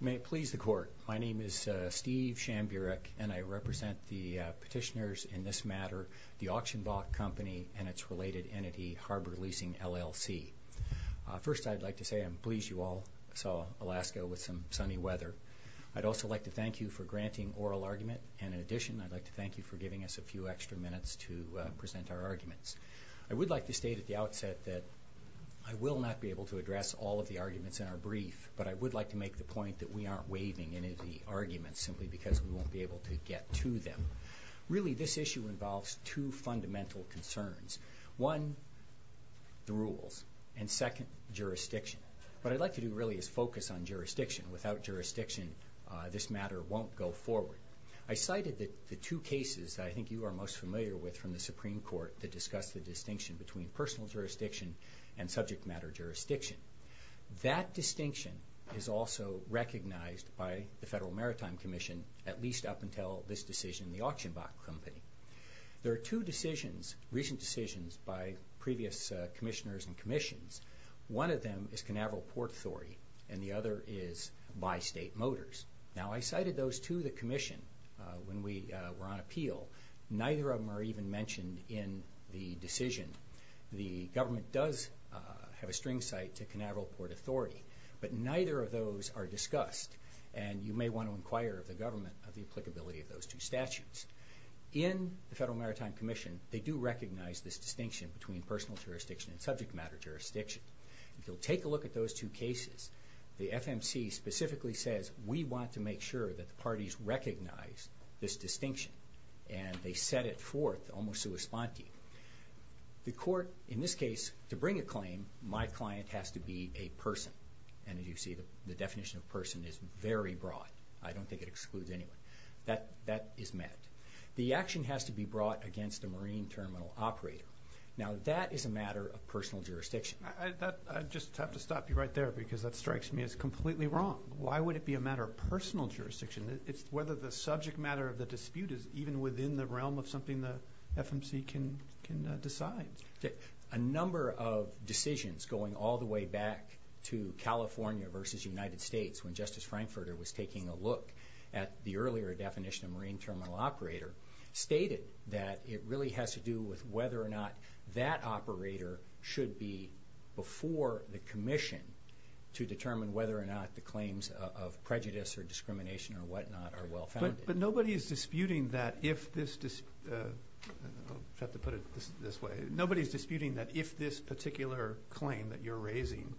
May it please the Court, my name is Steve Shamburick and I represent the petitioners in this matter, the Auction Block Company and its related entity Harbor Leasing LLC. First I'd like to say I'm pleased you all saw Alaska with some sunny weather. I'd also like to thank you for granting oral argument and in addition I'd like to thank you for giving us a few extra minutes to present our arguments. I would like to state at the outset that I will not be able to point that we aren't waiving any of the arguments simply because we won't be able to get to them. Really this issue involves two fundamental concerns. One, the rules and second, jurisdiction. What I'd like to do really is focus on jurisdiction. Without jurisdiction this matter won't go forward. I cited that the two cases I think you are most familiar with from the Supreme Court that discussed the distinction between personal jurisdiction and subject matter jurisdiction. That distinction is also recognized by the Federal Maritime Commission at least up until this decision in the Auction Block Company. There are two decisions, recent decisions, by previous commissioners and commissions. One of them is Canaveral Port Authority and the other is Bystate Motors. Now I cited those to the Commission when we were on appeal. Neither of them are even site to Canaveral Port Authority but neither of those are discussed and you may want to inquire of the government of the applicability of those two statutes. In the Federal Maritime Commission they do recognize this distinction between personal jurisdiction and subject matter jurisdiction. If you'll take a look at those two cases the FMC specifically says we want to make sure that the parties recognize this distinction and they set it forth almost sui sponte. The client has to be a person and as you see the definition of person is very broad. I don't think it excludes anyone. That is met. The action has to be brought against a marine terminal operator. Now that is a matter of personal jurisdiction. I just have to stop you right there because that strikes me as completely wrong. Why would it be a matter of personal jurisdiction? It's whether the subject matter of the dispute is even within the realm of the FMC can decide. A number of decisions going all the way back to California versus United States when Justice Frankfurter was taking a look at the earlier definition of marine terminal operator stated that it really has to do with whether or not that operator should be before the Commission to determine whether or not the claims of prejudice or discrimination or if this, I'll have to put it this way, nobody's disputing that if this particular claim that you're raising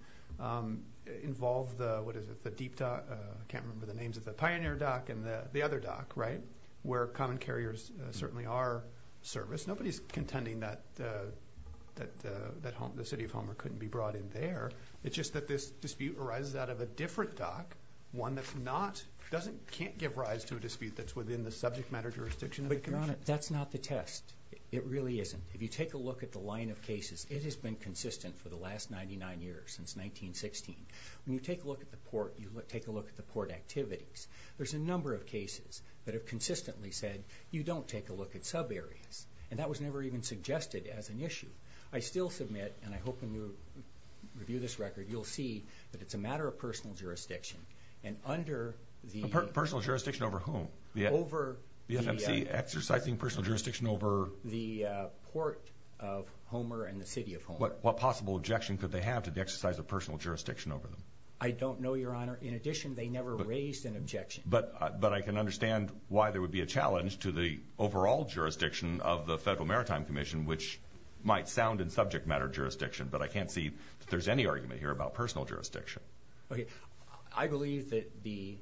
involved the, what is it, the Deep Dock, I can't remember the names of the Pioneer Dock and the other dock, right, where common carriers certainly are serviced, nobody's contending that the City of Homer couldn't be brought in there. It's just that this dispute arises out of a different dock, one that's not, doesn't, can't give rise to a dispute that's within the subject matter jurisdiction of the Commission. That's not the test. It really isn't. If you take a look at the line of cases, it has been consistent for the last 99 years, since 1916. When you take a look at the port, you take a look at the port activities. There's a number of cases that have consistently said you don't take a look at sub areas and that was never even suggested as an issue. I still submit and I hope when you review this record you'll see that it's a matter of personal jurisdiction and under the... Personal jurisdiction over whom? Over... The FMC exercising personal jurisdiction over... The Port of Homer and the City of Homer. What possible objection could they have to the exercise of personal jurisdiction over them? I don't know, Your Honor. In addition, they never raised an objection. But I can understand why there would be a challenge to the overall jurisdiction of the Federal Maritime Commission, which might sound in subject matter jurisdiction, but I can't see there's any argument here about personal jurisdiction. Okay, I believe that the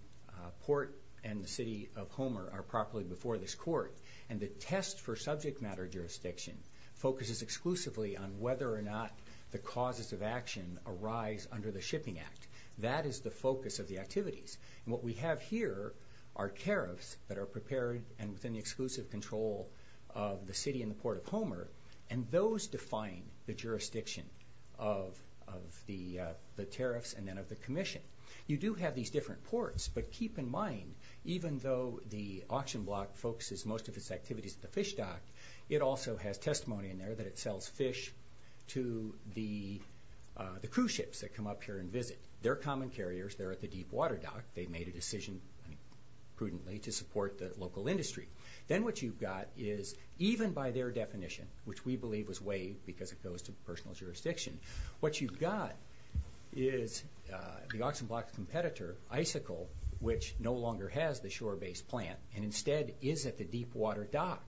Port and the City of Homer are properly before this Court and the test for subject matter jurisdiction focuses exclusively on whether or not the causes of action arise under the Shipping Act. That is the focus of the activities and what we have here are tariffs that are prepared and within the exclusive control of the City and the Port of Homer and those define the jurisdiction of the tariffs and then of the Commission. You do have these different courts, but keep in mind, even though the auction block focuses most of its activities at the fish dock, it also has testimony in there that it sells fish to the cruise ships that come up here and visit. They're common carriers, they're at the deepwater dock, they've made a decision prudently to support the local industry. Then what you've got is, even by their definition, which we believe was waived because it goes to personal jurisdiction, what you've got is the vessel which no longer has the shore base plant and instead is at the deepwater dock.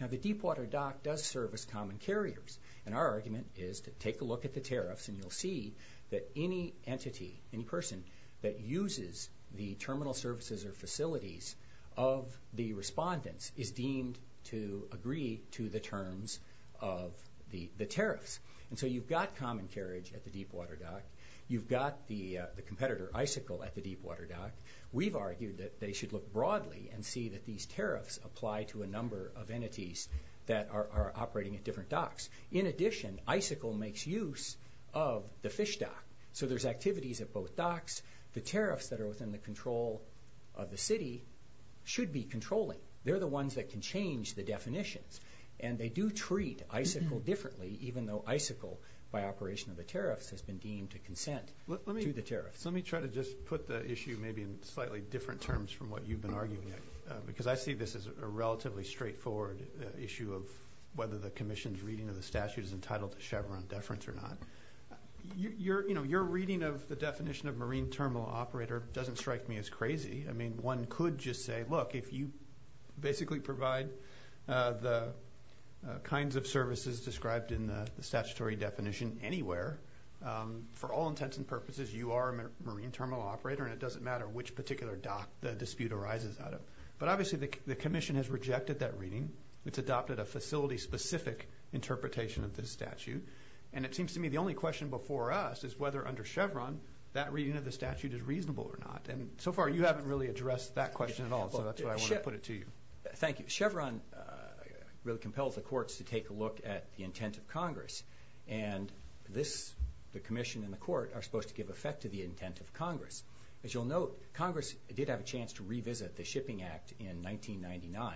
Now the deepwater dock does service common carriers and our argument is to take a look at the tariffs and you'll see that any entity, any person, that uses the terminal services or facilities of the respondents is deemed to agree to the terms of the tariffs. And so you've got common carriage at the deepwater dock, you've got the competitor, Icicle, at the deepwater dock. We've argued that they should look broadly and see that these tariffs apply to a number of entities that are operating at different docks. In addition, Icicle makes use of the fish dock, so there's activities at both docks. The tariffs that are within the control of the city should be controlling. They're the ones that can change the definitions and they do treat Icicle differently, even though Icicle, by operation of the tariffs, has been deemed to consent to the tariffs. Let me try to just put the issue maybe in slightly different terms from what you've been arguing, because I see this as a relatively straightforward issue of whether the Commission's reading of the statute is entitled to Chevron deference or not. You're, you know, your reading of the definition of marine terminal operator doesn't strike me as crazy. I mean, one could just say, look, if you basically provide the kinds of services described in the statutory definition anywhere, for all intents and purposes, you are a marine terminal operator and it doesn't matter which particular dock the dispute arises out of. But obviously the Commission has rejected that reading. It's adopted a facility-specific interpretation of this statute, and it seems to me the only question before us is whether under Chevron that reading of the statute is reasonable or not. And so far you haven't really addressed that question at all, so that's why I want to put it to you. Thank you. Chevron really is the intent of Congress, and this, the Commission and the Court, are supposed to give effect to the intent of Congress. As you'll note, Congress did have a chance to revisit the Shipping Act in 1999,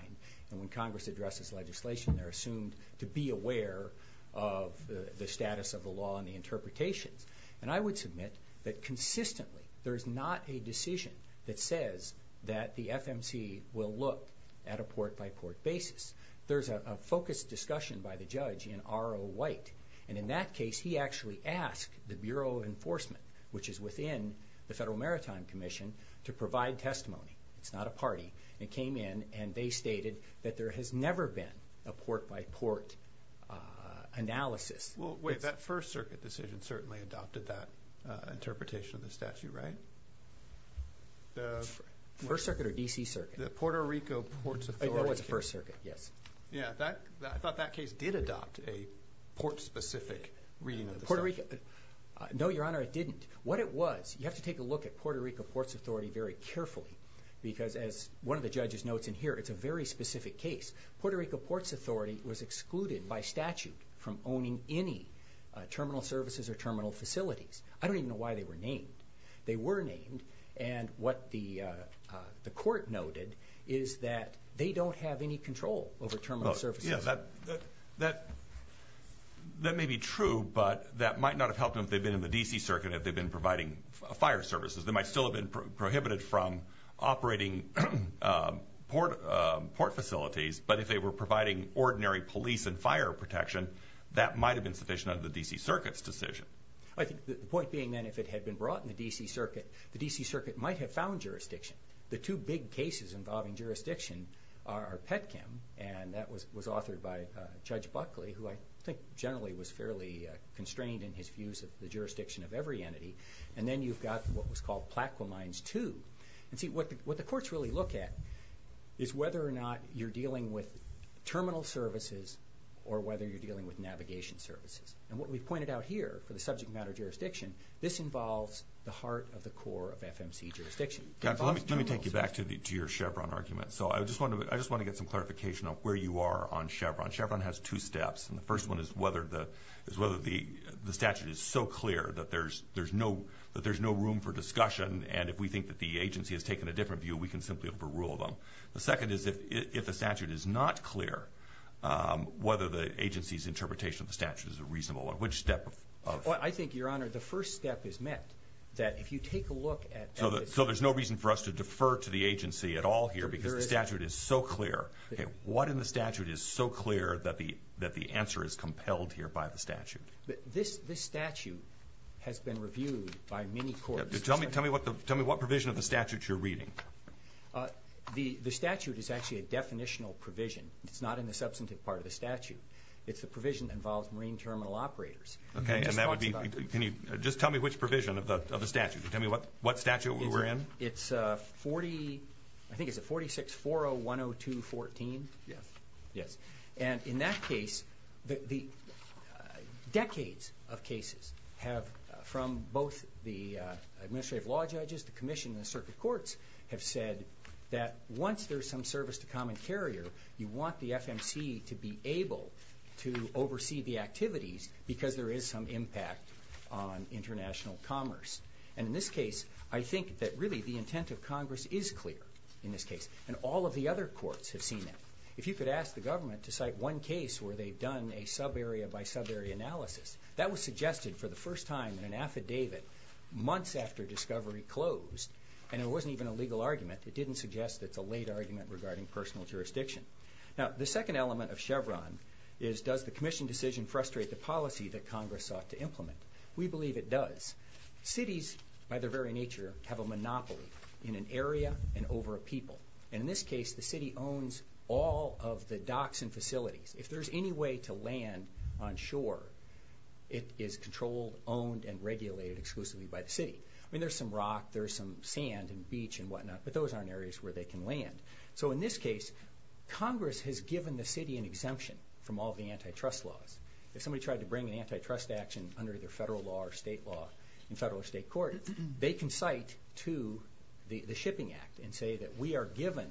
and when Congress addresses legislation they're assumed to be aware of the status of the law and the interpretations. And I would submit that consistently there is not a decision that says that the FMC will look at a port-by-port basis. There's a focused discussion by the Commission, R.O. White, and in that case he actually asked the Bureau of Enforcement, which is within the Federal Maritime Commission, to provide testimony. It's not a party. It came in and they stated that there has never been a port-by-port analysis. Well, wait, that First Circuit decision certainly adopted that interpretation of the statute, right? First Circuit or D.C. Circuit? The Puerto Rico Ports Authority. Oh, that was the First Circuit, yes. Yeah, I thought that case did adopt a port-specific reading of the statute. No, Your Honor, it didn't. What it was, you have to take a look at Puerto Rico Ports Authority very carefully, because as one of the judges notes in here, it's a very specific case. Puerto Rico Ports Authority was excluded by statute from owning any terminal services or terminal facilities. I don't even know why they were named. They were named, and what the Court noted is that they don't have any control over terminal services. Yeah, that may be true, but that might not have helped them if they've been in the D.C. Circuit, if they've been providing fire services. They might still have been prohibited from operating port facilities, but if they were providing ordinary police and fire protection, that might have been sufficient under the D.C. Circuit's decision. I think the point being, then, if it had been brought in the D.C. Circuit, the D.C. Circuit might have found jurisdiction. The two big cases involving jurisdiction are Petchem, and that was authored by Judge Buckley, who I think generally was fairly constrained in his views of the jurisdiction of every entity, and then you've got what was called Plaquemines II. And see, what the courts really look at is whether or not you're dealing with terminal services or whether you're dealing with navigation services. And what we've pointed out here for the subject matter jurisdiction, this involves the heart of the core of FMC jurisdiction. Let me take you back to your Chevron argument. So I just want to get some clarification of where you are on Chevron. Chevron has two steps, and the first one is whether the statute is so clear that there's no room for discussion, and if we think that the agency has taken a different view, we can simply overrule them. The second is if the statute is not clear, whether the agency's interpretation of the statute is a reasonable one. Which step? I think, Your Honor, the first step is met, that if you take a look at... So there's no reason for us to defer to the agency at all here because the statute is so clear. What in the statute is so clear that the answer is compelled here by the statute? This statute has been reviewed by many courts. Tell me what provision of the statute you're reading. The statute is actually a definitional provision. It's not in the substantive part of the statute. It's the provision that involves marine terminal operators. Okay, and that would be... Just tell me which provision of the statute. Tell me what statute we're in. It's 40... I think it's a 46-40-102-14? Yes. Yes, and in that case, the decades of cases have, from both the administrative law judges, the Commission, the circuit courts, have said that once there's some service to common carrier, you want the FMC to be able to And in this case, I think that really the intent of Congress is clear in this case, and all of the other courts have seen it. If you could ask the government to cite one case where they've done a subarea by subarea analysis, that was suggested for the first time in an affidavit months after discovery closed, and it wasn't even a legal argument. It didn't suggest it's a late argument regarding personal jurisdiction. Now, the second element of Chevron is, does the Commission decision frustrate the policy that Congress sought to implement? We believe it does. Cities, by their very nature, have a monopoly in an area and over a people, and in this case, the city owns all of the docks and facilities. If there's any way to land on shore, it is controlled, owned, and regulated exclusively by the city. I mean, there's some rock, there's some sand and beach and whatnot, but those aren't areas where they can land. So in this case, Congress has given the laws. If somebody tried to bring an antitrust action under their federal law or state law in federal or state court, they can cite to the Shipping Act and say that we are given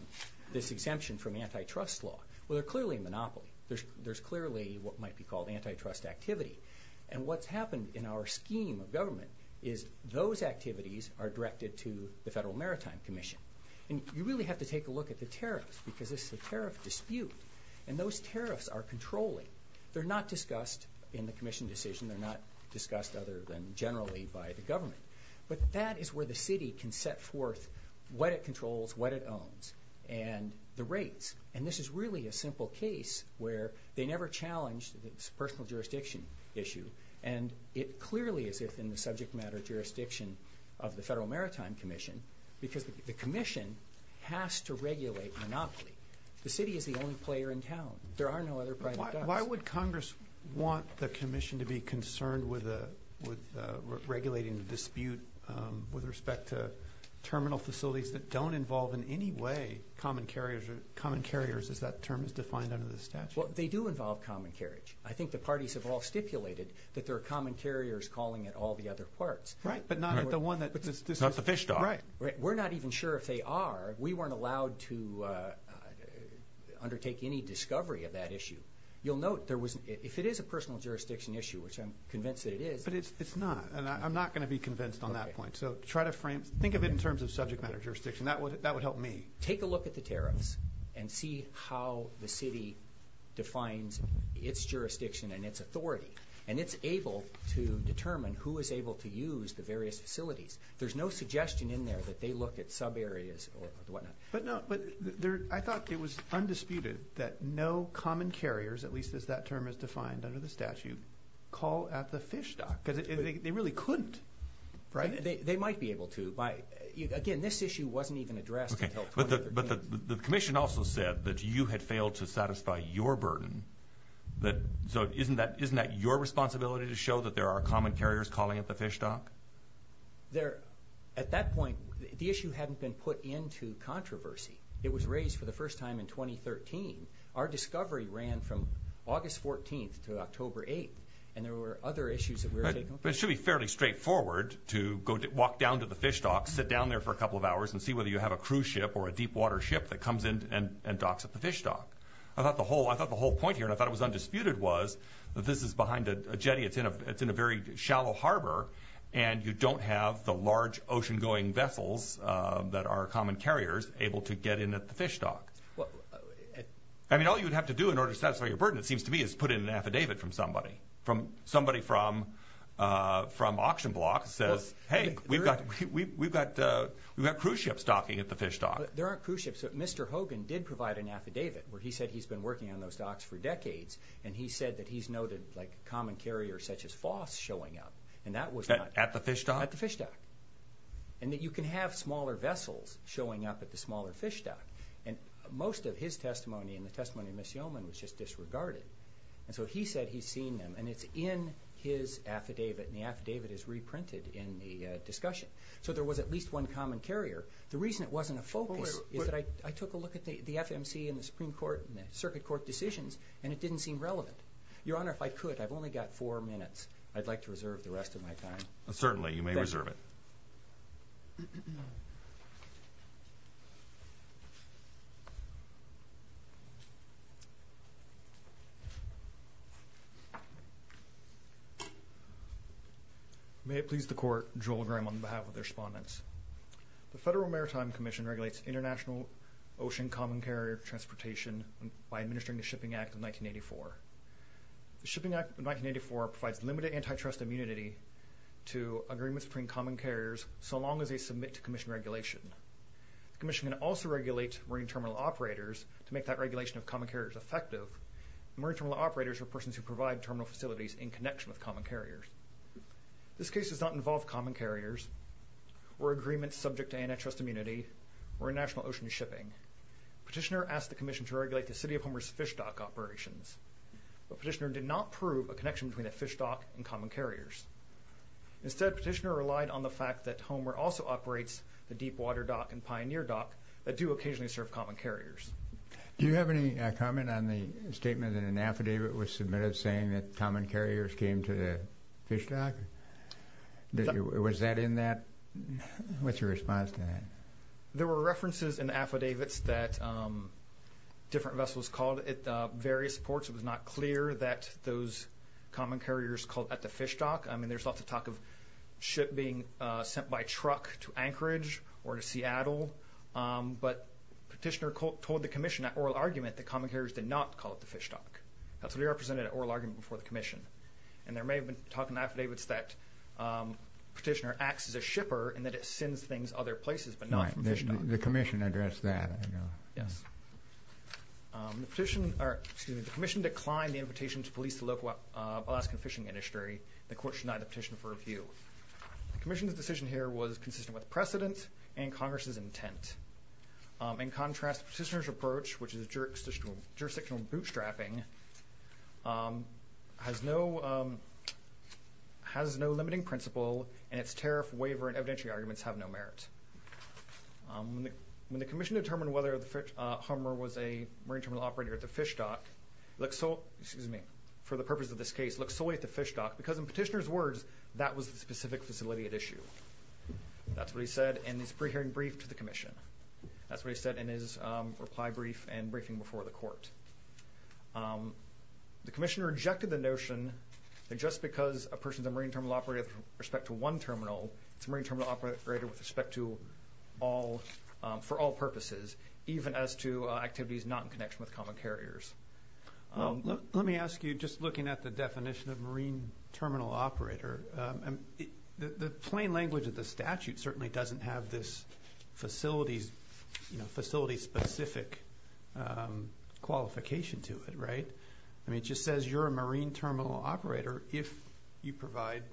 this exemption from antitrust law. Well, they're clearly a monopoly. There's clearly what might be called antitrust activity, and what's happened in our scheme of government is those activities are directed to the Federal Maritime Commission. And you really have to take a look at the tariffs, because this is a tariff dispute, and those tariffs are controlling. They're not discussed in the Commission decision, they're not discussed other than generally by the government. But that is where the city can set forth what it controls, what it owns, and the rates. And this is really a simple case where they never challenged this personal jurisdiction issue, and it clearly is within the subject matter jurisdiction of the Federal Maritime Commission, because the Commission has to regulate monopoly. The city is the only Why would Congress want the Commission to be concerned with regulating the dispute with respect to terminal facilities that don't involve in any way common carriers, as that term is defined under the statute? Well, they do involve common carriage. I think the parties have all stipulated that there are common carriers calling at all the other parts. Right, but not the one that... Not the fish dock. Right. We're not even sure if they are. We weren't allowed to undertake any discovery of that issue. You'll note there was... If it is a personal jurisdiction issue, which I'm convinced that it is... But it's not, and I'm not going to be convinced on that point. So try to frame... Think of it in terms of subject matter jurisdiction. That would help me. Take a look at the tariffs and see how the city defines its jurisdiction and its authority, and it's able to determine who is able to use the various facilities. There's no suggestion in there that they look at sub areas or But I thought it was undisputed that no common carriers, at least as that term is defined under the statute, call at the fish dock, because they really couldn't. Right? They might be able to, but again, this issue wasn't even addressed until... But the Commission also said that you had failed to satisfy your burden, so isn't that your responsibility to show that there are common carriers calling at the fish dock? There... At that point, the issue hadn't been put into controversy. It was raised for the first time in 2013. Our discovery ran from August 14th to October 8th, and there were other issues that we were taking... But it should be fairly straightforward to walk down to the fish dock, sit down there for a couple of hours and see whether you have a cruise ship or a deep water ship that comes in and docks at the fish dock. I thought the whole point here, and I thought it was undisputed, was that this is behind a jetty, it's in a very shallow harbor, and you don't have the large ocean-going vessels that are common carriers able to get in at the fish dock. Well... I mean, all you would have to do in order to satisfy your burden, it seems to me, is put in an affidavit from somebody. From... Somebody from... From auction block says, hey, we've got... We've got... We've got cruise ships docking at the fish dock. There aren't cruise ships, but Mr. Hogan did provide an affidavit where he said he's been working on those docks for decades, and he said that he's noted, like, common carriers such as FOSS showing up, and that was not... At the fish dock? At the fish dock. And that you can have smaller vessels showing up at the smaller fish dock, and most of his testimony and the testimony of Ms. Yeoman was just disregarded, and so he said he's seen them, and it's in his affidavit, and the affidavit is reprinted in the discussion. So there was at least one common carrier. The reason it wasn't a focus is that I took a look at the FMC and the Supreme Court and the Circuit Court decisions, and it didn't seem relevant. Your Honor, if I could, I've only got four minutes. I'd like to reserve the rest of my time. Certainly, you may reserve it. May it please the Court, Joel Graham on behalf of the respondents. The Federal Maritime Commission regulates international ocean common carrier transportation by administering the Shipping Act of 1984. The Shipping Act of 1984 provides limited antitrust immunity to agreements between common carriers so long as they submit to Commission regulation. The Commission can also regulate marine terminal operators to make that regulation of common carriers effective. Marine terminal operators are persons who provide terminal facilities in connection with common carriers. This case does not involve common carriers or agreements subject to antitrust immunity or national ocean shipping. Petitioner asked the Commission to regulate the City of Homer's fish dock operations, but Petitioner did not prove a connection between a fish dock and common carriers. Instead, Petitioner relied on the fact that Homer also operates the Deepwater Dock and Pioneer Dock that do occasionally serve common carriers. Do you have any comment on the statement that an affidavit was submitted saying that common carriers came to the fish dock? Was that in that? What's your thoughts on the affidavits that different vessels called at various ports? It was not clear that those common carriers called at the fish dock. I mean, there's lots of talk of ship being sent by truck to Anchorage or to Seattle, but Petitioner told the Commission at oral argument that common carriers did not call it the fish dock. That's what he represented at oral argument before the Commission. And there may have been talking affidavits that Petitioner acts as a shipper and that it sends things other places, but not from the fish dock. The Commission addressed that. Yes. The Commission declined the invitation to police the local Alaskan fishing industry. The court denied the petition for review. The Commission's decision here was consistent with precedent and Congress's intent. In contrast, Petitioner's approach, which is jurisdictional bootstrapping, has no limiting principle and its When the Commission determined whether the Hummer was a Marine Terminal operator at the fish dock, it looks so, excuse me, for the purpose of this case, looks solely at the fish dock, because in Petitioner's words, that was the specific facility at issue. That's what he said in his pre-hearing brief to the Commission. That's what he said in his reply brief and briefing before the court. The Commission rejected the notion that just because a person's a Marine Terminal operator with respect to one terminal, it's a Marine Terminal operator with respect to all, for all purposes, even as to activities not in connection with common carriers. Let me ask you, just looking at the definition of Marine Terminal operator, the plain language of the statute certainly doesn't have this facility-specific qualification to it, right? I mean, it just says you're a Marine Terminal operator if you provide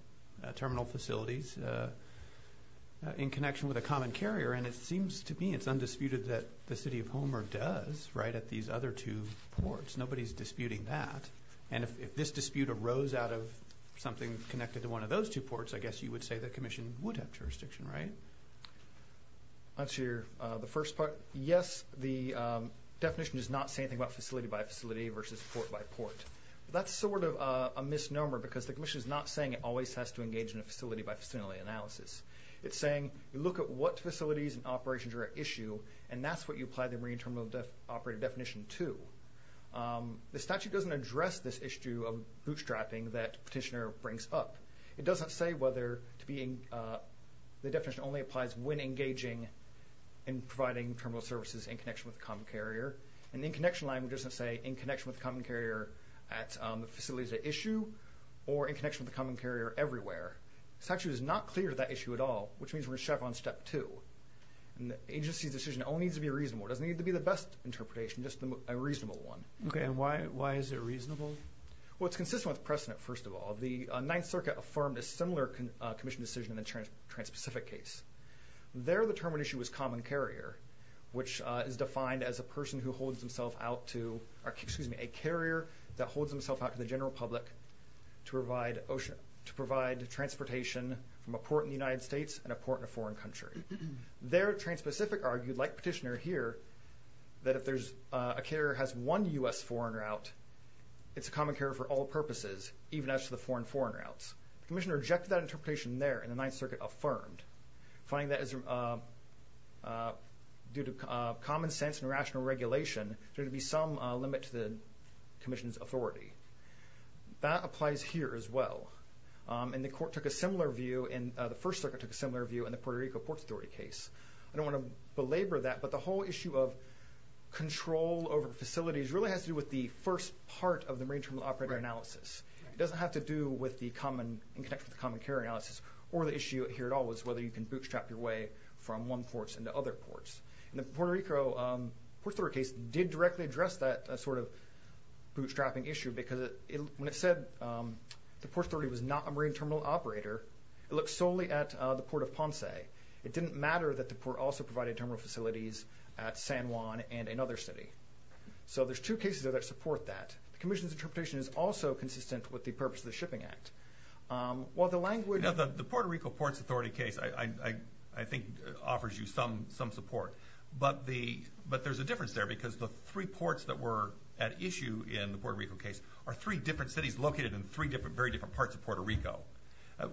terminal facilities in connection with a common carrier, and it seems to me it's undisputed that the City of Hummer does, right, at these other two ports. Nobody's disputing that, and if this dispute arose out of something connected to one of those two ports, I guess you would say the Commission would have jurisdiction, right? Answer the first part. Yes, the definition does not say anything about facility by facility versus port by port. That's sort of a misnomer, because the Commission is not saying it always has to engage in a facility-by-facility analysis. It's look at what facilities and operations are at issue, and that's what you apply the Marine Terminal operator definition to. The statute doesn't address this issue of bootstrapping that Petitioner brings up. It doesn't say whether to be in... the definition only applies when engaging in providing terminal services in connection with a common carrier, and the in-connection language doesn't say in connection with a common carrier at the facilities at issue, or in connection with the common carrier everywhere. The statute is not clear of that issue at all, which means we're in step two, and the agency's decision only needs to be reasonable. It doesn't need to be the best interpretation, just a reasonable one. Okay, and why is it reasonable? Well, it's consistent with precedent, first of all. The Ninth Circuit affirmed a similar Commission decision in the Trans-Pacific case. There, the term at issue was common carrier, which is defined as a person who holds himself out to... excuse me, a carrier that holds himself out to the general public to provide... to provide transportation from a port in the United States and a port in a foreign country. There, Trans-Pacific argued, like Petitioner here, that if there's... a carrier has one U.S. foreign route, it's a common carrier for all purposes, even as to the foreign foreign routes. The Commission rejected that interpretation there, and the Ninth Circuit affirmed, finding that as... due to common sense and rational regulation, there to be some limit to the Commission's authority. That applies here as well, and the Court took a similar view in... the First Circuit took a similar view in the Puerto Rico Ports Authority case. I don't want to belabor that, but the whole issue of control over facilities really has to do with the first part of the Marine Terminal Operator analysis. It doesn't have to do with the common... in connection with the common carrier analysis, or the issue here at all was whether you can bootstrap your way from one ports into other ports. The Puerto Rico Ports Authority case did... the Port Authority was not a Marine Terminal Operator. It looked solely at the Port of Ponce. It didn't matter that the Port also provided terminal facilities at San Juan and another city. So there's two cases that support that. The Commission's interpretation is also consistent with the purpose of the Shipping Act. While the language... The Puerto Rico Ports Authority case, I think, offers you some support, but there's a difference there, because the three ports that were at issue in the Puerto Rico case are three different cities located in three different, very different parts of Puerto Rico.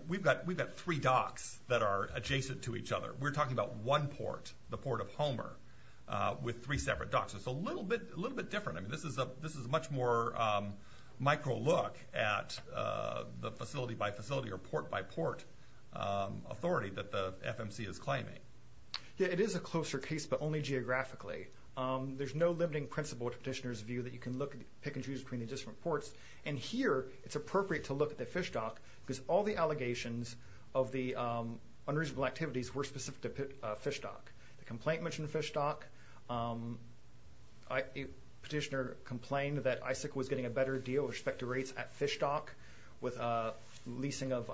We've got three docks that are adjacent to each other. We're talking about one port, the Port of Homer, with three separate docks. It's a little bit different. This is a much more micro look at the facility-by-facility or port-by-port authority that the FMC is claiming. Yeah, it is a closer case, but only geographically. There's no limiting principle to Petitioner's view that you can pick and choose between the different ports. And here, it's appropriate to look at the Fish Dock, because all the allegations of the unreasonable activities were specific to Fish Dock. The complaint mentioned Fish Dock. Petitioner complained that ISIC was getting a better deal with respect to rates at Fish Dock, with a leasing of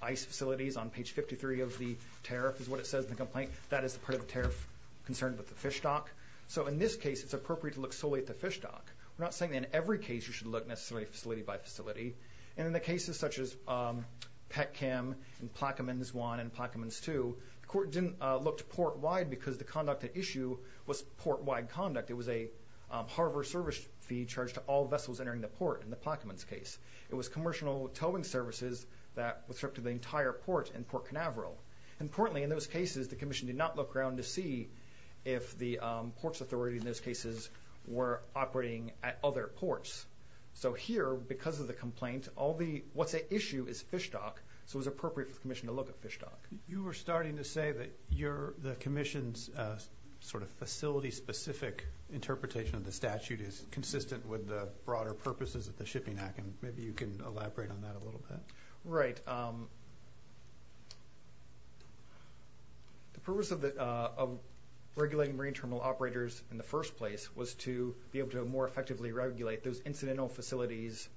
ICE facilities on page 53 of the tariff, is what it says in the complaint. That is part of the tariff concerned with the Fish Dock. So in this case, it's appropriate to look solely at the Fish Dock. We're not saying in every case you should look necessarily at facility-by-facility. And in the cases such as Pet-Chem and Plaquemines 1 and Plaquemines 2, the court didn't look to port-wide because the conduct at issue was port-wide conduct. It was a harbor service fee charged to all vessels entering the port in the Plaquemines case. It was commercial towing services that was stripped of the entire port in Port Navarro. Importantly, in those cases, the Commission did not look around to see if the ports authority in those cases were operating at other ports. So here, because of the complaint, what's at issue is Fish Dock, so it was appropriate for the Commission to look at Fish Dock. You were starting to say that the Commission's sort of facility-specific interpretation of the statute is consistent with the broader purposes of the Shipping Act, and maybe you can The purpose of regulating marine terminal operators in the first place was to be able to more effectively regulate those incidental facilities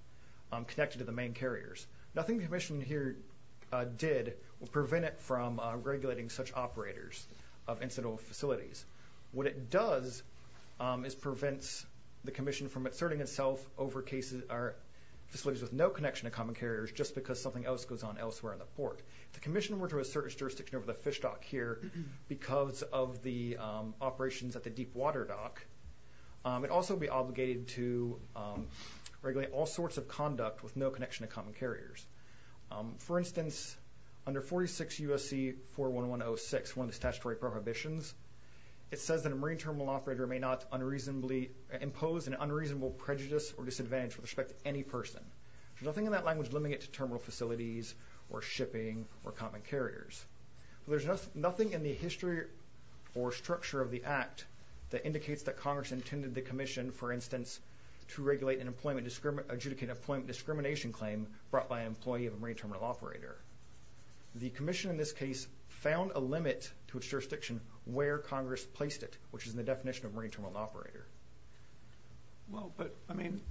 connected to the main carriers. Nothing the Commission here did will prevent it from regulating such operators of incidental facilities. What it does is prevents the Commission from asserting itself over cases or facilities with no connection to common carriers just because something else goes on elsewhere in the port. If the Commission were to assert its jurisdiction over the Fish Dock here because of the operations at the Deepwater Dock, it would also be obligated to regulate all sorts of conduct with no connection to common carriers. For instance, under 46 U.S.C. 41106, one of the statutory prohibitions, it says that a marine terminal operator may not unreasonably impose an unreasonable prejudice or disadvantage with respect to any person. There's nothing in that for shipping or common carriers. There's nothing in the history or structure of the Act that indicates that Congress intended the Commission, for instance, to regulate and adjudicate an employment discrimination claim brought by an employee of a marine terminal operator. The Commission in this case found a limit to its jurisdiction where Congress placed it, which is in the definition of marine terminal operator. Well, but I mean,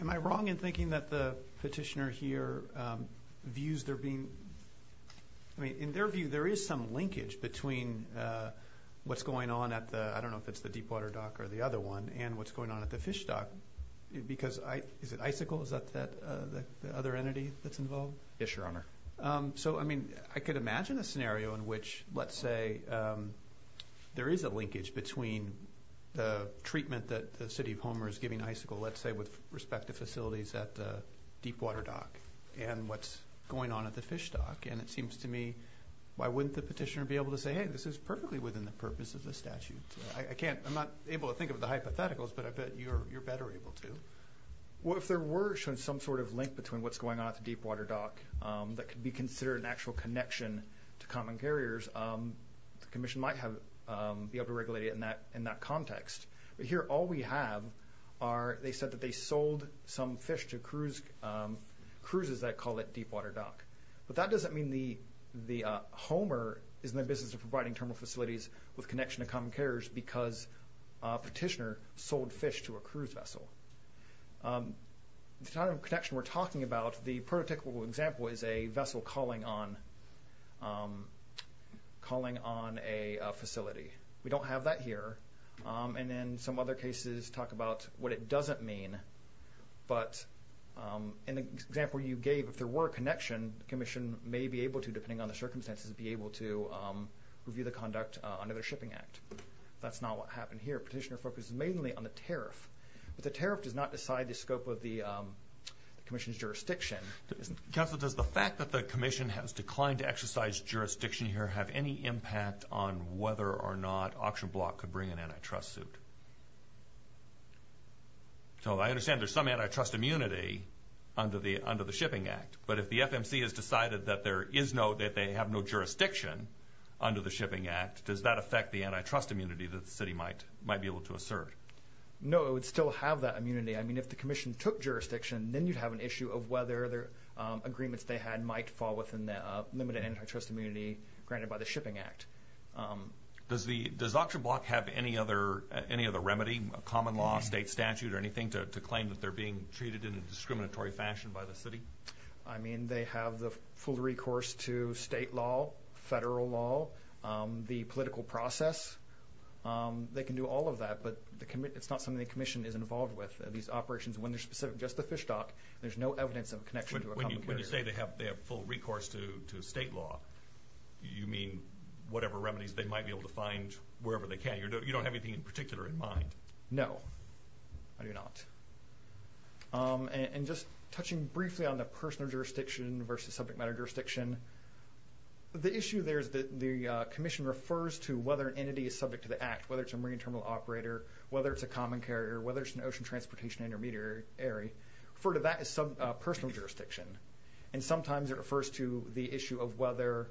am I wrong in thinking that the petitioner here views there being, I mean, in their view, there is some linkage between what's going on at the, I don't know if it's the Deepwater Dock or the other one, and what's going on at the Fish Dock because I, is it Icicle? Is that the other entity that's involved? Yes, Your Honor. So, I mean, I could imagine a scenario in which, let's say, there is a linkage between the treatment that the City of Homer is giving Icicle, let's say, with respect to Deepwater Dock and what's going on at the Fish Dock, and it seems to me, why wouldn't the petitioner be able to say, hey, this is perfectly within the purpose of the statute? I can't, I'm not able to think of the hypotheticals, but I bet you're better able to. Well, if there were shown some sort of link between what's going on at the Deepwater Dock that could be considered an actual connection to common carriers, the Commission might have, be able to regulate it in that context. But here, all we have are, they said that they sold fish to cruises that call it Deepwater Dock. But that doesn't mean the, the Homer is in the business of providing terminal facilities with connection to common carriers because petitioner sold fish to a cruise vessel. The type of connection we're talking about, the prototypical example is a vessel calling on, calling on a facility. We don't have that here, and in some other cases talk about what it doesn't mean, but in the example you gave, if there were a connection, the Commission may be able to, depending on the circumstances, be able to review the conduct under the Shipping Act. That's not what happened here. Petitioner focuses mainly on the tariff, but the tariff does not decide the scope of the Commission's jurisdiction. Counsel, does the fact that the Commission has declined to exercise jurisdiction here have any impact on whether or not Auction Block could bring an antitrust suit? So I understand there's some antitrust immunity under the, under the Shipping Act, but if the FMC has decided that there is no, that they have no jurisdiction under the Shipping Act, does that affect the antitrust immunity that the city might, might be able to assert? No, it would still have that immunity. I mean, if the Commission took jurisdiction, then you'd have an issue of whether their agreements they had might fall within the limited antitrust immunity granted by the Shipping Act. Does the, does Auction Block have any other, any other remedy, a common law, state statute, or anything to claim that they're being treated in a discriminatory fashion by the city? I mean, they have the full recourse to state law, federal law, the political process. They can do all of that, but the, it's not something the Commission is involved with. These operations, when they're specific, just the fish stock, there's no evidence of connection to a common carrier. When you say they have, they have full recourse to, to state law, you mean whatever remedies they might be able to can, you don't have anything in particular in mind? No, I do not. And just touching briefly on the personal jurisdiction versus subject matter jurisdiction, the issue there is that the Commission refers to whether an entity is subject to the Act, whether it's a marine terminal operator, whether it's a common carrier, whether it's an ocean transportation intermediary, refer to that as some personal jurisdiction. And sometimes it refers to the issue of whether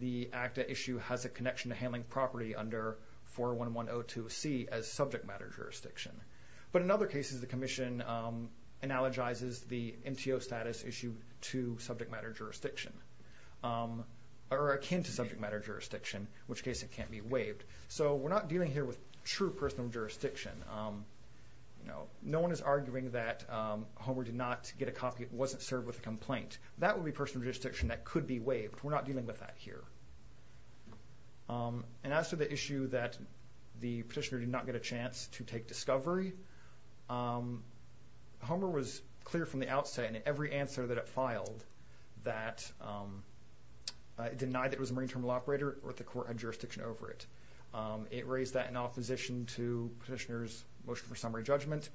the ACTA issue has a connection to handling property under 41102C as subject matter jurisdiction. But in other cases, the Commission analogizes the MTO status issue to subject matter jurisdiction, or akin to subject matter jurisdiction, in which case it can't be waived. So we're not dealing here with true personal jurisdiction. You know, no one is arguing that Homer did not get a complaint. That would be personal jurisdiction that could be waived. We're not dealing with that here. And as to the issue that the petitioner did not get a chance to take discovery, Homer was clear from the outset in every answer that it filed that it denied that it was a marine terminal operator or that the court had jurisdiction over it. It raised that in opposition to petitioner's motion for summary judgment.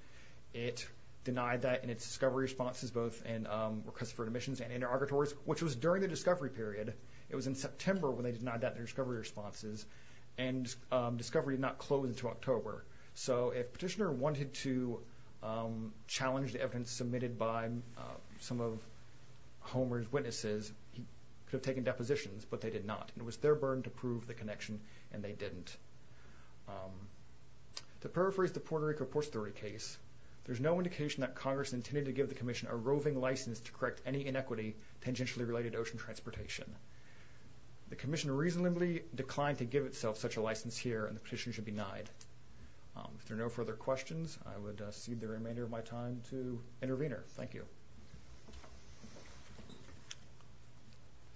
It denied that in its discovery responses, both in customer admissions and interlocutors, which was during the discovery period. It was in September when they denied that in their discovery responses, and discovery did not close until October. So if petitioner wanted to challenge the evidence submitted by some of Homer's witnesses, he could have taken depositions, but they did not. It was their burden to prove the connection, and they didn't. To paraphrase the Puerto Rico Port Story case, there's no indication that Congress intended to give the Commission a roving license to correct any inequity tangentially related to ocean transportation. The Commission reasonably declined to give itself such a license here, and the petitioner should be denied. If there are no further questions, I would cede the remainder of my time to intervener. Thank you.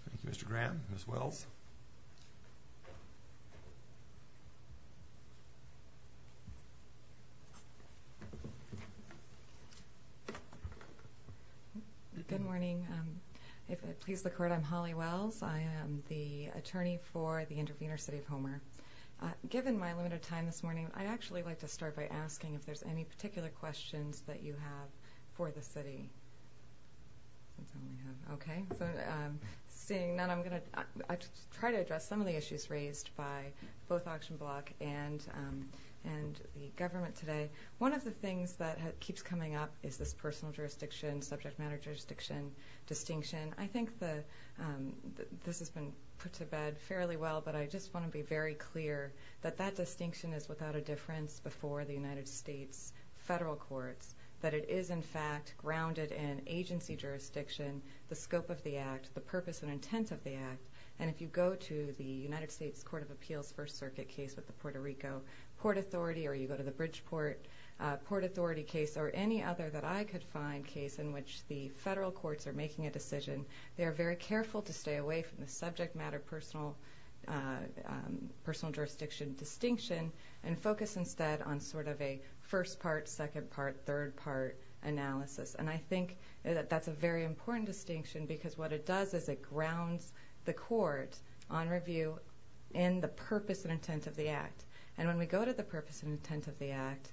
Thank you, Mr. Graham. Ms. Wells? Good morning. If it pleases the Court, I'm Holly Wells. I am the attorney for the intervener, City of Homer. Given my limited time this morning, I'd actually like to start by asking if there's any particular questions that you have for the City. Okay, so seeing none, I'm going to try to address some of the issues raised by both Auction Block and the government today. One of the things that keeps coming up is this personal jurisdiction, subject matter jurisdiction distinction. I think that this has been put to bed fairly well, but I just want to be very clear that that distinction is without a difference before the United States federal courts. That it is, in fact, grounded in agency jurisdiction, the scope of the Act, the purpose and intent of the Act, and if you go to the United States Court of Appeals First Circuit case with the Puerto Rico Port Authority, or you go to the Bridgeport Port Authority case, or any other that I could find, case in which the federal courts are making a decision, they are very careful to stay away from the subject matter, personal jurisdiction distinction, and focus instead on sort of a first part, second part, third part analysis. And I think that that's a very important distinction, because what it does is it grounds the court on review in the purpose and intent of the Act. And when we go to the purpose and intent of the Act,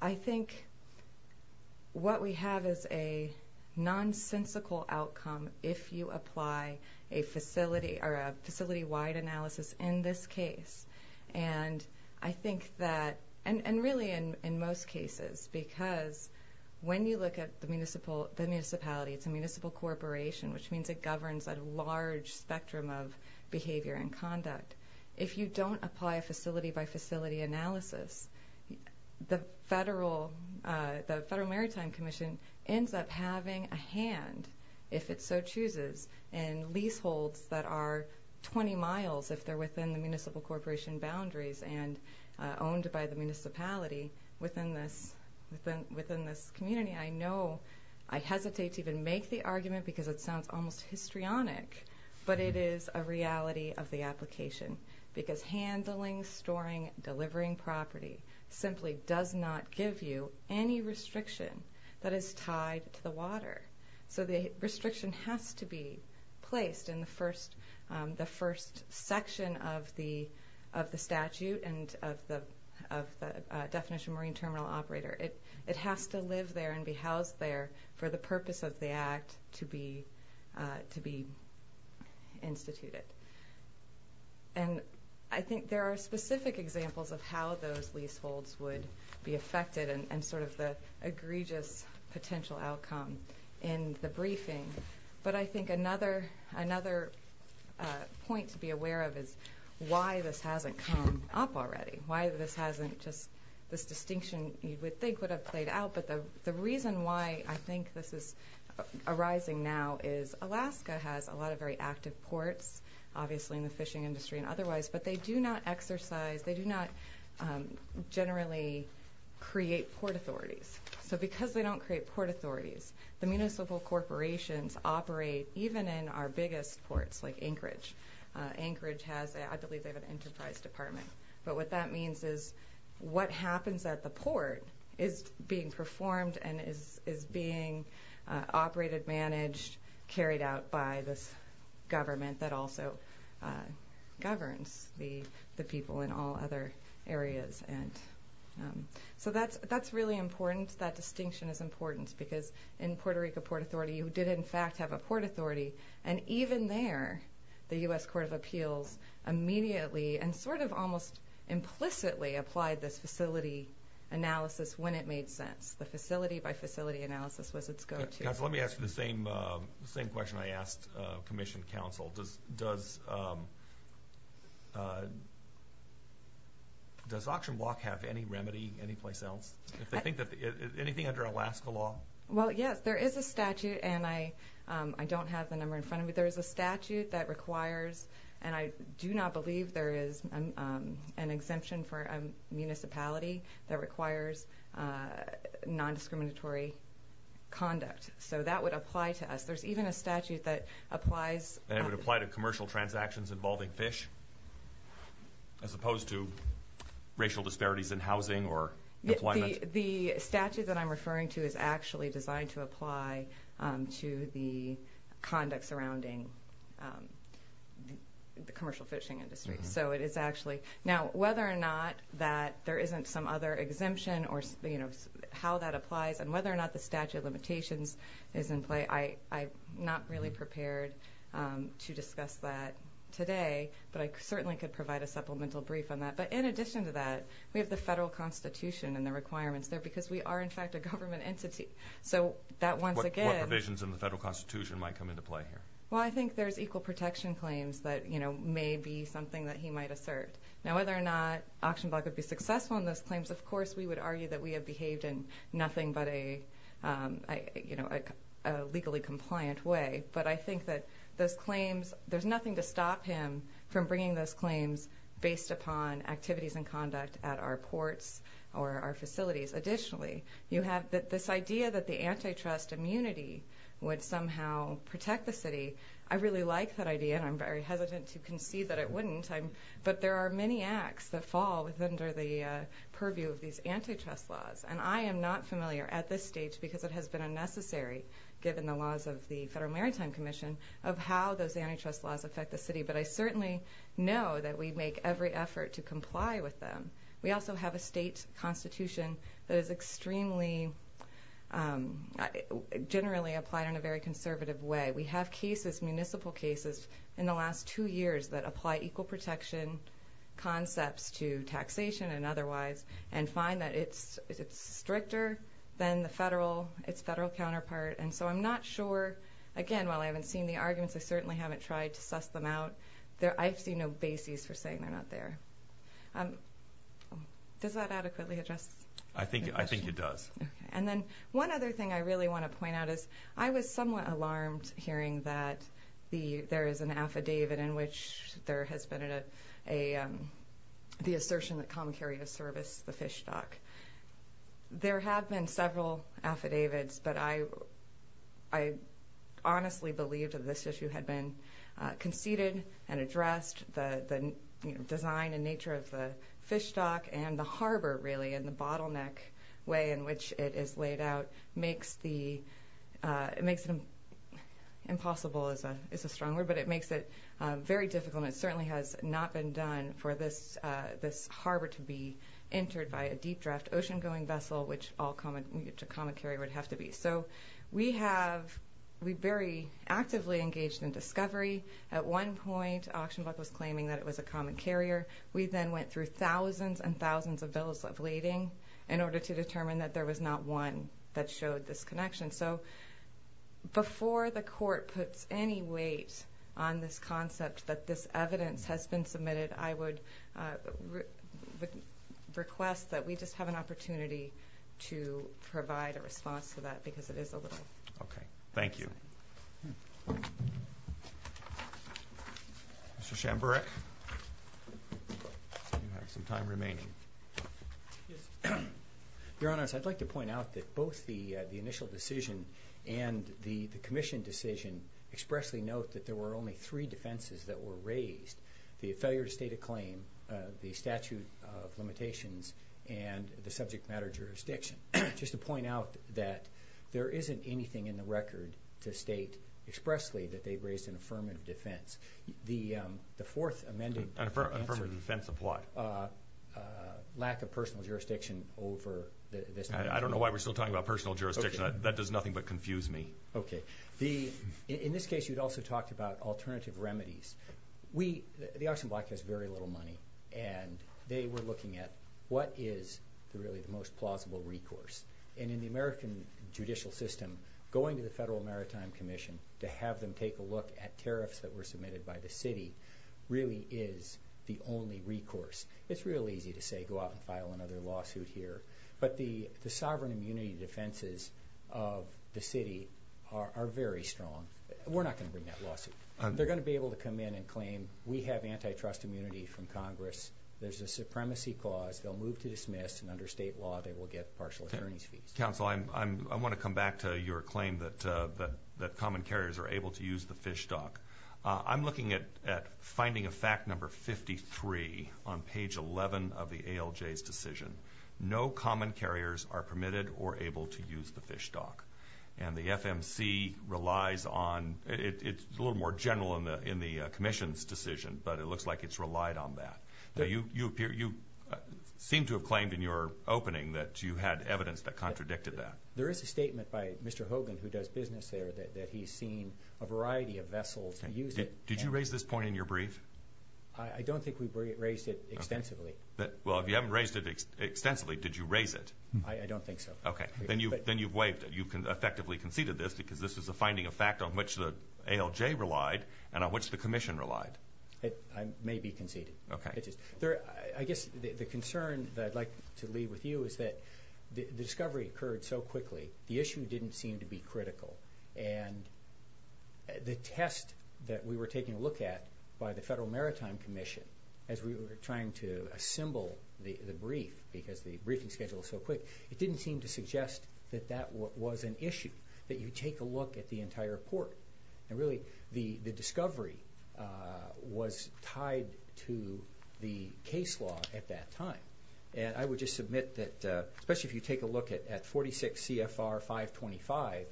I think what we have is a nonsensical outcome if you apply a facility or a facility-wide analysis in this case. And I think that, and really in most cases, because when you look at the municipal, the municipality, it's a municipal corporation, which means it governs a large spectrum of behavior and conduct. If you don't apply a facility by facility analysis, the Federal Maritime Commission ends up having a hand, if it so chooses, in leaseholds that are 20 miles, if they're within the municipal corporation boundaries, and owned by the municipality within this community. I know I hesitate to even make the argument because it sounds almost histrionic, but it is a reality of the application. Because handling, storing, delivering property simply does not give you any restriction that is tied to the water. So the restriction has to be placed in the first section of the statute and of the definition of marine terminal operator. It has to live there and be housed there for the purpose of the Act to be instituted. And I think there are specific examples of how those leaseholds would be affected and sort of the egregious potential outcome in the briefing. But I think another point to be aware of is why this hasn't come up already. Why this hasn't just, this distinction you would think would have played out, but the reason why I think this is arising now is Alaska has a lot of very active ports, obviously in the exercise, they do not generally create port authorities. So because they don't create port authorities, the municipal corporations operate even in our biggest ports like Anchorage. Anchorage has, I believe they have an enterprise department. But what that means is what happens at the port is being performed and is being operated, managed, carried out by this government that also governs the people in all other areas. And so that's really important. That distinction is important because in Puerto Rico, port authority, you did in fact have a port authority. And even there, the U.S. Court of Appeals immediately and sort of almost implicitly applied this facility analysis when it made sense. The facility by facility analysis was its go-to. Council, let me ask you the same question I asked Commissioned Council. Does Auction Block have any remedy anyplace else? If they think that, anything under Alaska law? Well, yes, there is a statute and I don't have the number in front of me. There is a statute that requires, and I do not believe there is an exemption for a municipality that requires non-discriminatory conduct. So that would apply to us. There's even a statute that applies... And it would apply to commercial transactions involving fish, as opposed to racial disparities in housing or employment? The statute that I'm referring to is actually designed to apply to the conduct surrounding the commercial fishing industry. So it is actually... Now, whether or not that there isn't some other exemption or, you know, how that applies and whether or not the limitations is in play, I'm not really prepared to discuss that today, but I certainly could provide a supplemental brief on that. But in addition to that, we have the federal Constitution and the requirements there because we are, in fact, a government entity. So that once again... What provisions in the federal Constitution might come into play here? Well, I think there's equal protection claims that, you know, may be something that he might assert. Now, whether or not Auction Block would be successful in those claims, of course we would argue that we have behaved in nothing but a, you know, a legally compliant way. But I think that those claims... There's nothing to stop him from bringing those claims based upon activities and conduct at our ports or our facilities. Additionally, you have this idea that the antitrust immunity would somehow protect the city. I really like that idea and I'm very hesitant to concede that it wouldn't, but there are many acts that fall within the purview of these antitrust laws. And I am not familiar at this stage, because it has been unnecessary given the laws of the Federal Maritime Commission, of how those antitrust laws affect the city. But I certainly know that we make every effort to comply with them. We also have a state constitution that is extremely... generally applied in a very conservative way. We have cases, municipal cases, in the last two years that apply equal protection concepts to taxation and otherwise, and find that it's stricter than the federal... its federal counterpart. And so I'm not sure... again, while I haven't seen the arguments, I certainly haven't tried to suss them out. There... I've seen no basis for saying they're not there. Does that adequately address? I think... I think it does. And then one other thing I really want to point out is, I was somewhat alarmed hearing that the... there is an affidavit in which there has been a... the assertion that Comicario serviced the fish stock. There have been several affidavits, but I... I honestly believed that this issue had been conceded and addressed. The design and nature of the fish stock, and the harbor really, and the bottleneck way in which it is laid out, makes the... it makes it impossible as a... it's a strong word, but it makes it very difficult. And it certainly has not been done for this... this harbor to be entered by a deep draft ocean-going vessel, which all Comic... which a Comicario would have to be. So we have... we very actively engaged in discovery. At one point, AuctionBuck was claiming that it was a Comicario. We then went through thousands and thousands of bills of lading in order to determine that there was not one that showed this connection. So before the court puts any weight on this concept that this evidence has been submitted, I would request that we just have an opportunity to provide a response to that, because it is a little... Okay. Thank you. Mr. Shamburek, you have some time remaining. Yes. Your Honor, I'd like to point out that both the initial decision and the Commission decision expressly note that there were only three defenses that were raised. The failure to state a claim, the statute of limitations, and the subject matter jurisdiction. Just to point out that there isn't anything in the record to state expressly that they raised an affirmative defense. The fourth amended... An affirmative defense of what? Lack of personal jurisdiction over this... I don't know why we're still talking about personal jurisdiction. That does nothing but confuse me. Okay. The... in this case, you'd also talked about alternative remedies. We... the Oxnard Black has very little money, and they were looking at what is really the most plausible recourse. And in the American judicial system, going to the Federal Maritime Commission to have them take a look at tariffs that were submitted by the city really is the only recourse. It's real easy to say go out and file another lawsuit here, but the the sovereign immunity defenses of the city are very strong. We're not going to bring that lawsuit. They're going to be able to come in and claim, we have antitrust immunity from Congress. There's a supremacy clause. They'll move to dismiss, and under state law, they will get partial attorney's fees. Counsel, I want to come back to your claim that that common carriers are able to use the fish stock. I'm looking at finding a fact number 53 on page 11 of the ALJ's decision. No common carriers are permitted or able to use the fish stock. And the FMC relies on... It's a little more general in the Commission's decision, but it looks like it's relied on that. You seem to have claimed in your opening that you had evidence that contradicted that. There is a statement by Mr. Hogan, who does business there, that he's seen a variety of vessels use it. Did you raise this point in your brief? I don't think we raised it extensively. Well, if you haven't raised it extensively, did you raise it? I don't think so. Okay, then you've waived it. You can effectively conceded this because this was a finding of fact on which the ALJ relied and on which the Commission relied. It may be conceded. Okay. I guess the concern that I'd like to leave with you is that the discovery occurred so quickly, the issue didn't seem to be critical, and the test that we were taking a look at by the Federal Maritime Commission as we were trying to assemble the brief, because the briefing schedule is so quick, it didn't seem to suggest that that was an issue, that you take a look at the entire report. And really, the discovery was tied to the case law at that time. And I would just submit that, especially if you take a look at 46 CFR 525,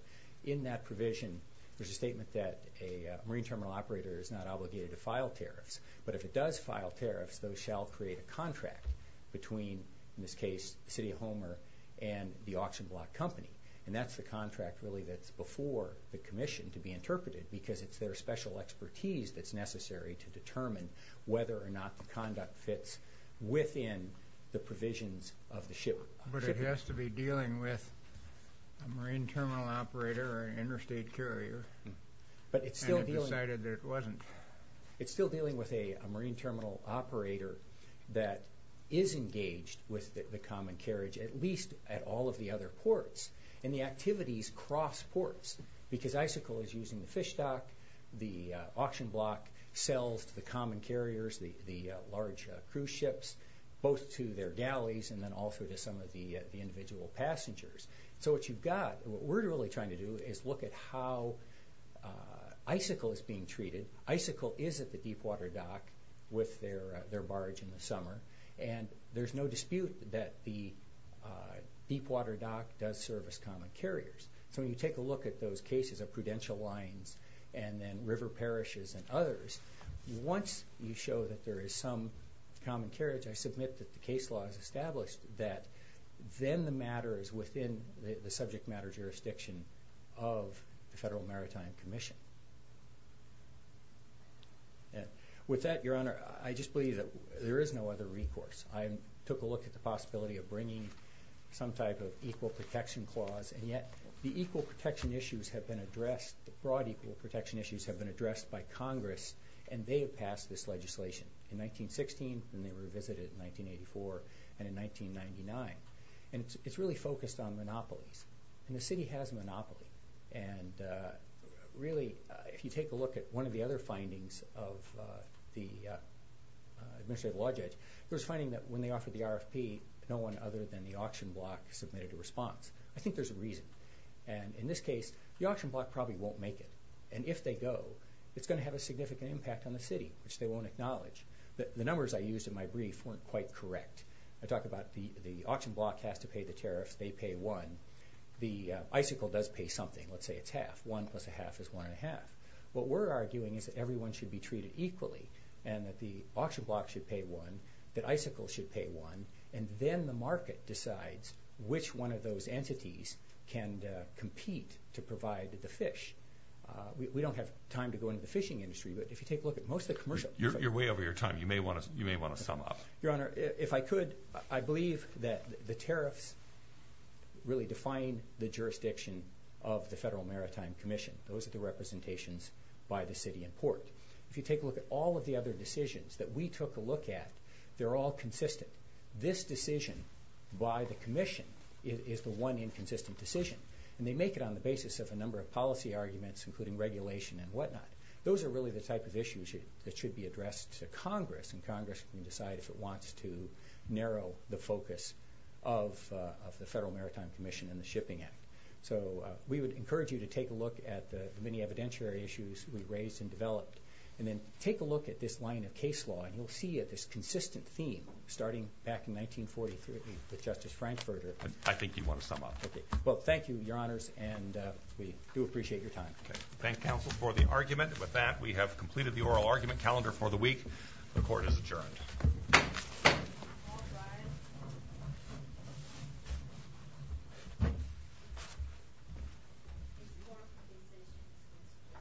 in that provision there's a statement that a marine terminal operator is not obligated to file tariffs, but if it does file tariffs, those shall create a contract between, in this case, the City of Homer and the Commission to be interpreted, because it's their special expertise that's necessary to determine whether or not the conduct fits within the provisions of the ship. But it has to be dealing with a marine terminal operator or an interstate carrier, and it decided that it wasn't. It's still dealing with a marine terminal operator that is engaged with the common carriage, at least at all of the other ports, and the activities cross ports, because ICICL is using the fish dock, the auction block, sales to the common carriers, the large cruise ships, both to their galleys and then also to some of the individual passengers. So what you've got, what we're really trying to do, is look at how ICICL is being treated. ICICL is at the deepwater dock with their barge in the deepwater dock does service common carriers. So when you take a look at those cases of prudential lines and then river parishes and others, once you show that there is some common carriage, I submit that the case law has established that then the matter is within the subject matter jurisdiction of the Federal Maritime Commission. With that, Your Honor, I just believe that there is no other recourse. I took a look at the possibility of bringing some type of equal protection clause, and yet the equal protection issues have been addressed, the broad equal protection issues have been addressed by Congress, and they have passed this legislation in 1916, then they revisited in 1984, and in 1999. And it's really focused on monopolies, and the city has a monopoly. And really, if you take a look at one of the other findings of the Administrative Law Judge, there's finding that when they offered the RFP, no one other than the auction block submitted a response. I think there's a reason. And in this case, the auction block probably won't make it. And if they go, it's going to have a significant impact on the city, which they won't acknowledge. The numbers I used in my brief weren't quite correct. I talked about the auction block has to pay the tariffs, they pay one. The ICICL does pay something, let's say it's half. One plus a half is one and a half. What we're arguing is that everyone should be treated equally, and that the auction block should pay one, that ICICL should pay one, and then the market decides which one of those entities can compete to provide the fish. We don't have time to go into the fishing industry, but if you take a look at most of the commercial... You're way over your time. You may want to sum up. Your Honor, if I could, I believe that the tariffs really define the jurisdiction of the Federal Maritime Commission. Those are the representations by the city and port. If you take a look at all of the other decisions that we took a look at, they're all consistent. This decision by the Commission is the one inconsistent decision, and they make it on the basis of a number of policy arguments, including regulation and whatnot. Those are really the type of issues that should be addressed to Congress, and Congress can decide if it wants to narrow the focus of the Federal Maritime Commission and the Shipping Act. So we would encourage you to take a look at the many evidentiary issues we raised and developed, and then take a look at this line of case law, and you'll see it's a consistent theme, starting back in 1943 with Justice Frankfurter. I think you want to sum up. Okay. Well, thank you, Your Honors, and we do appreciate your time. Thank counsel for the argument. With that, we have completed the oral argument calendar for the week. The Court is adjourned.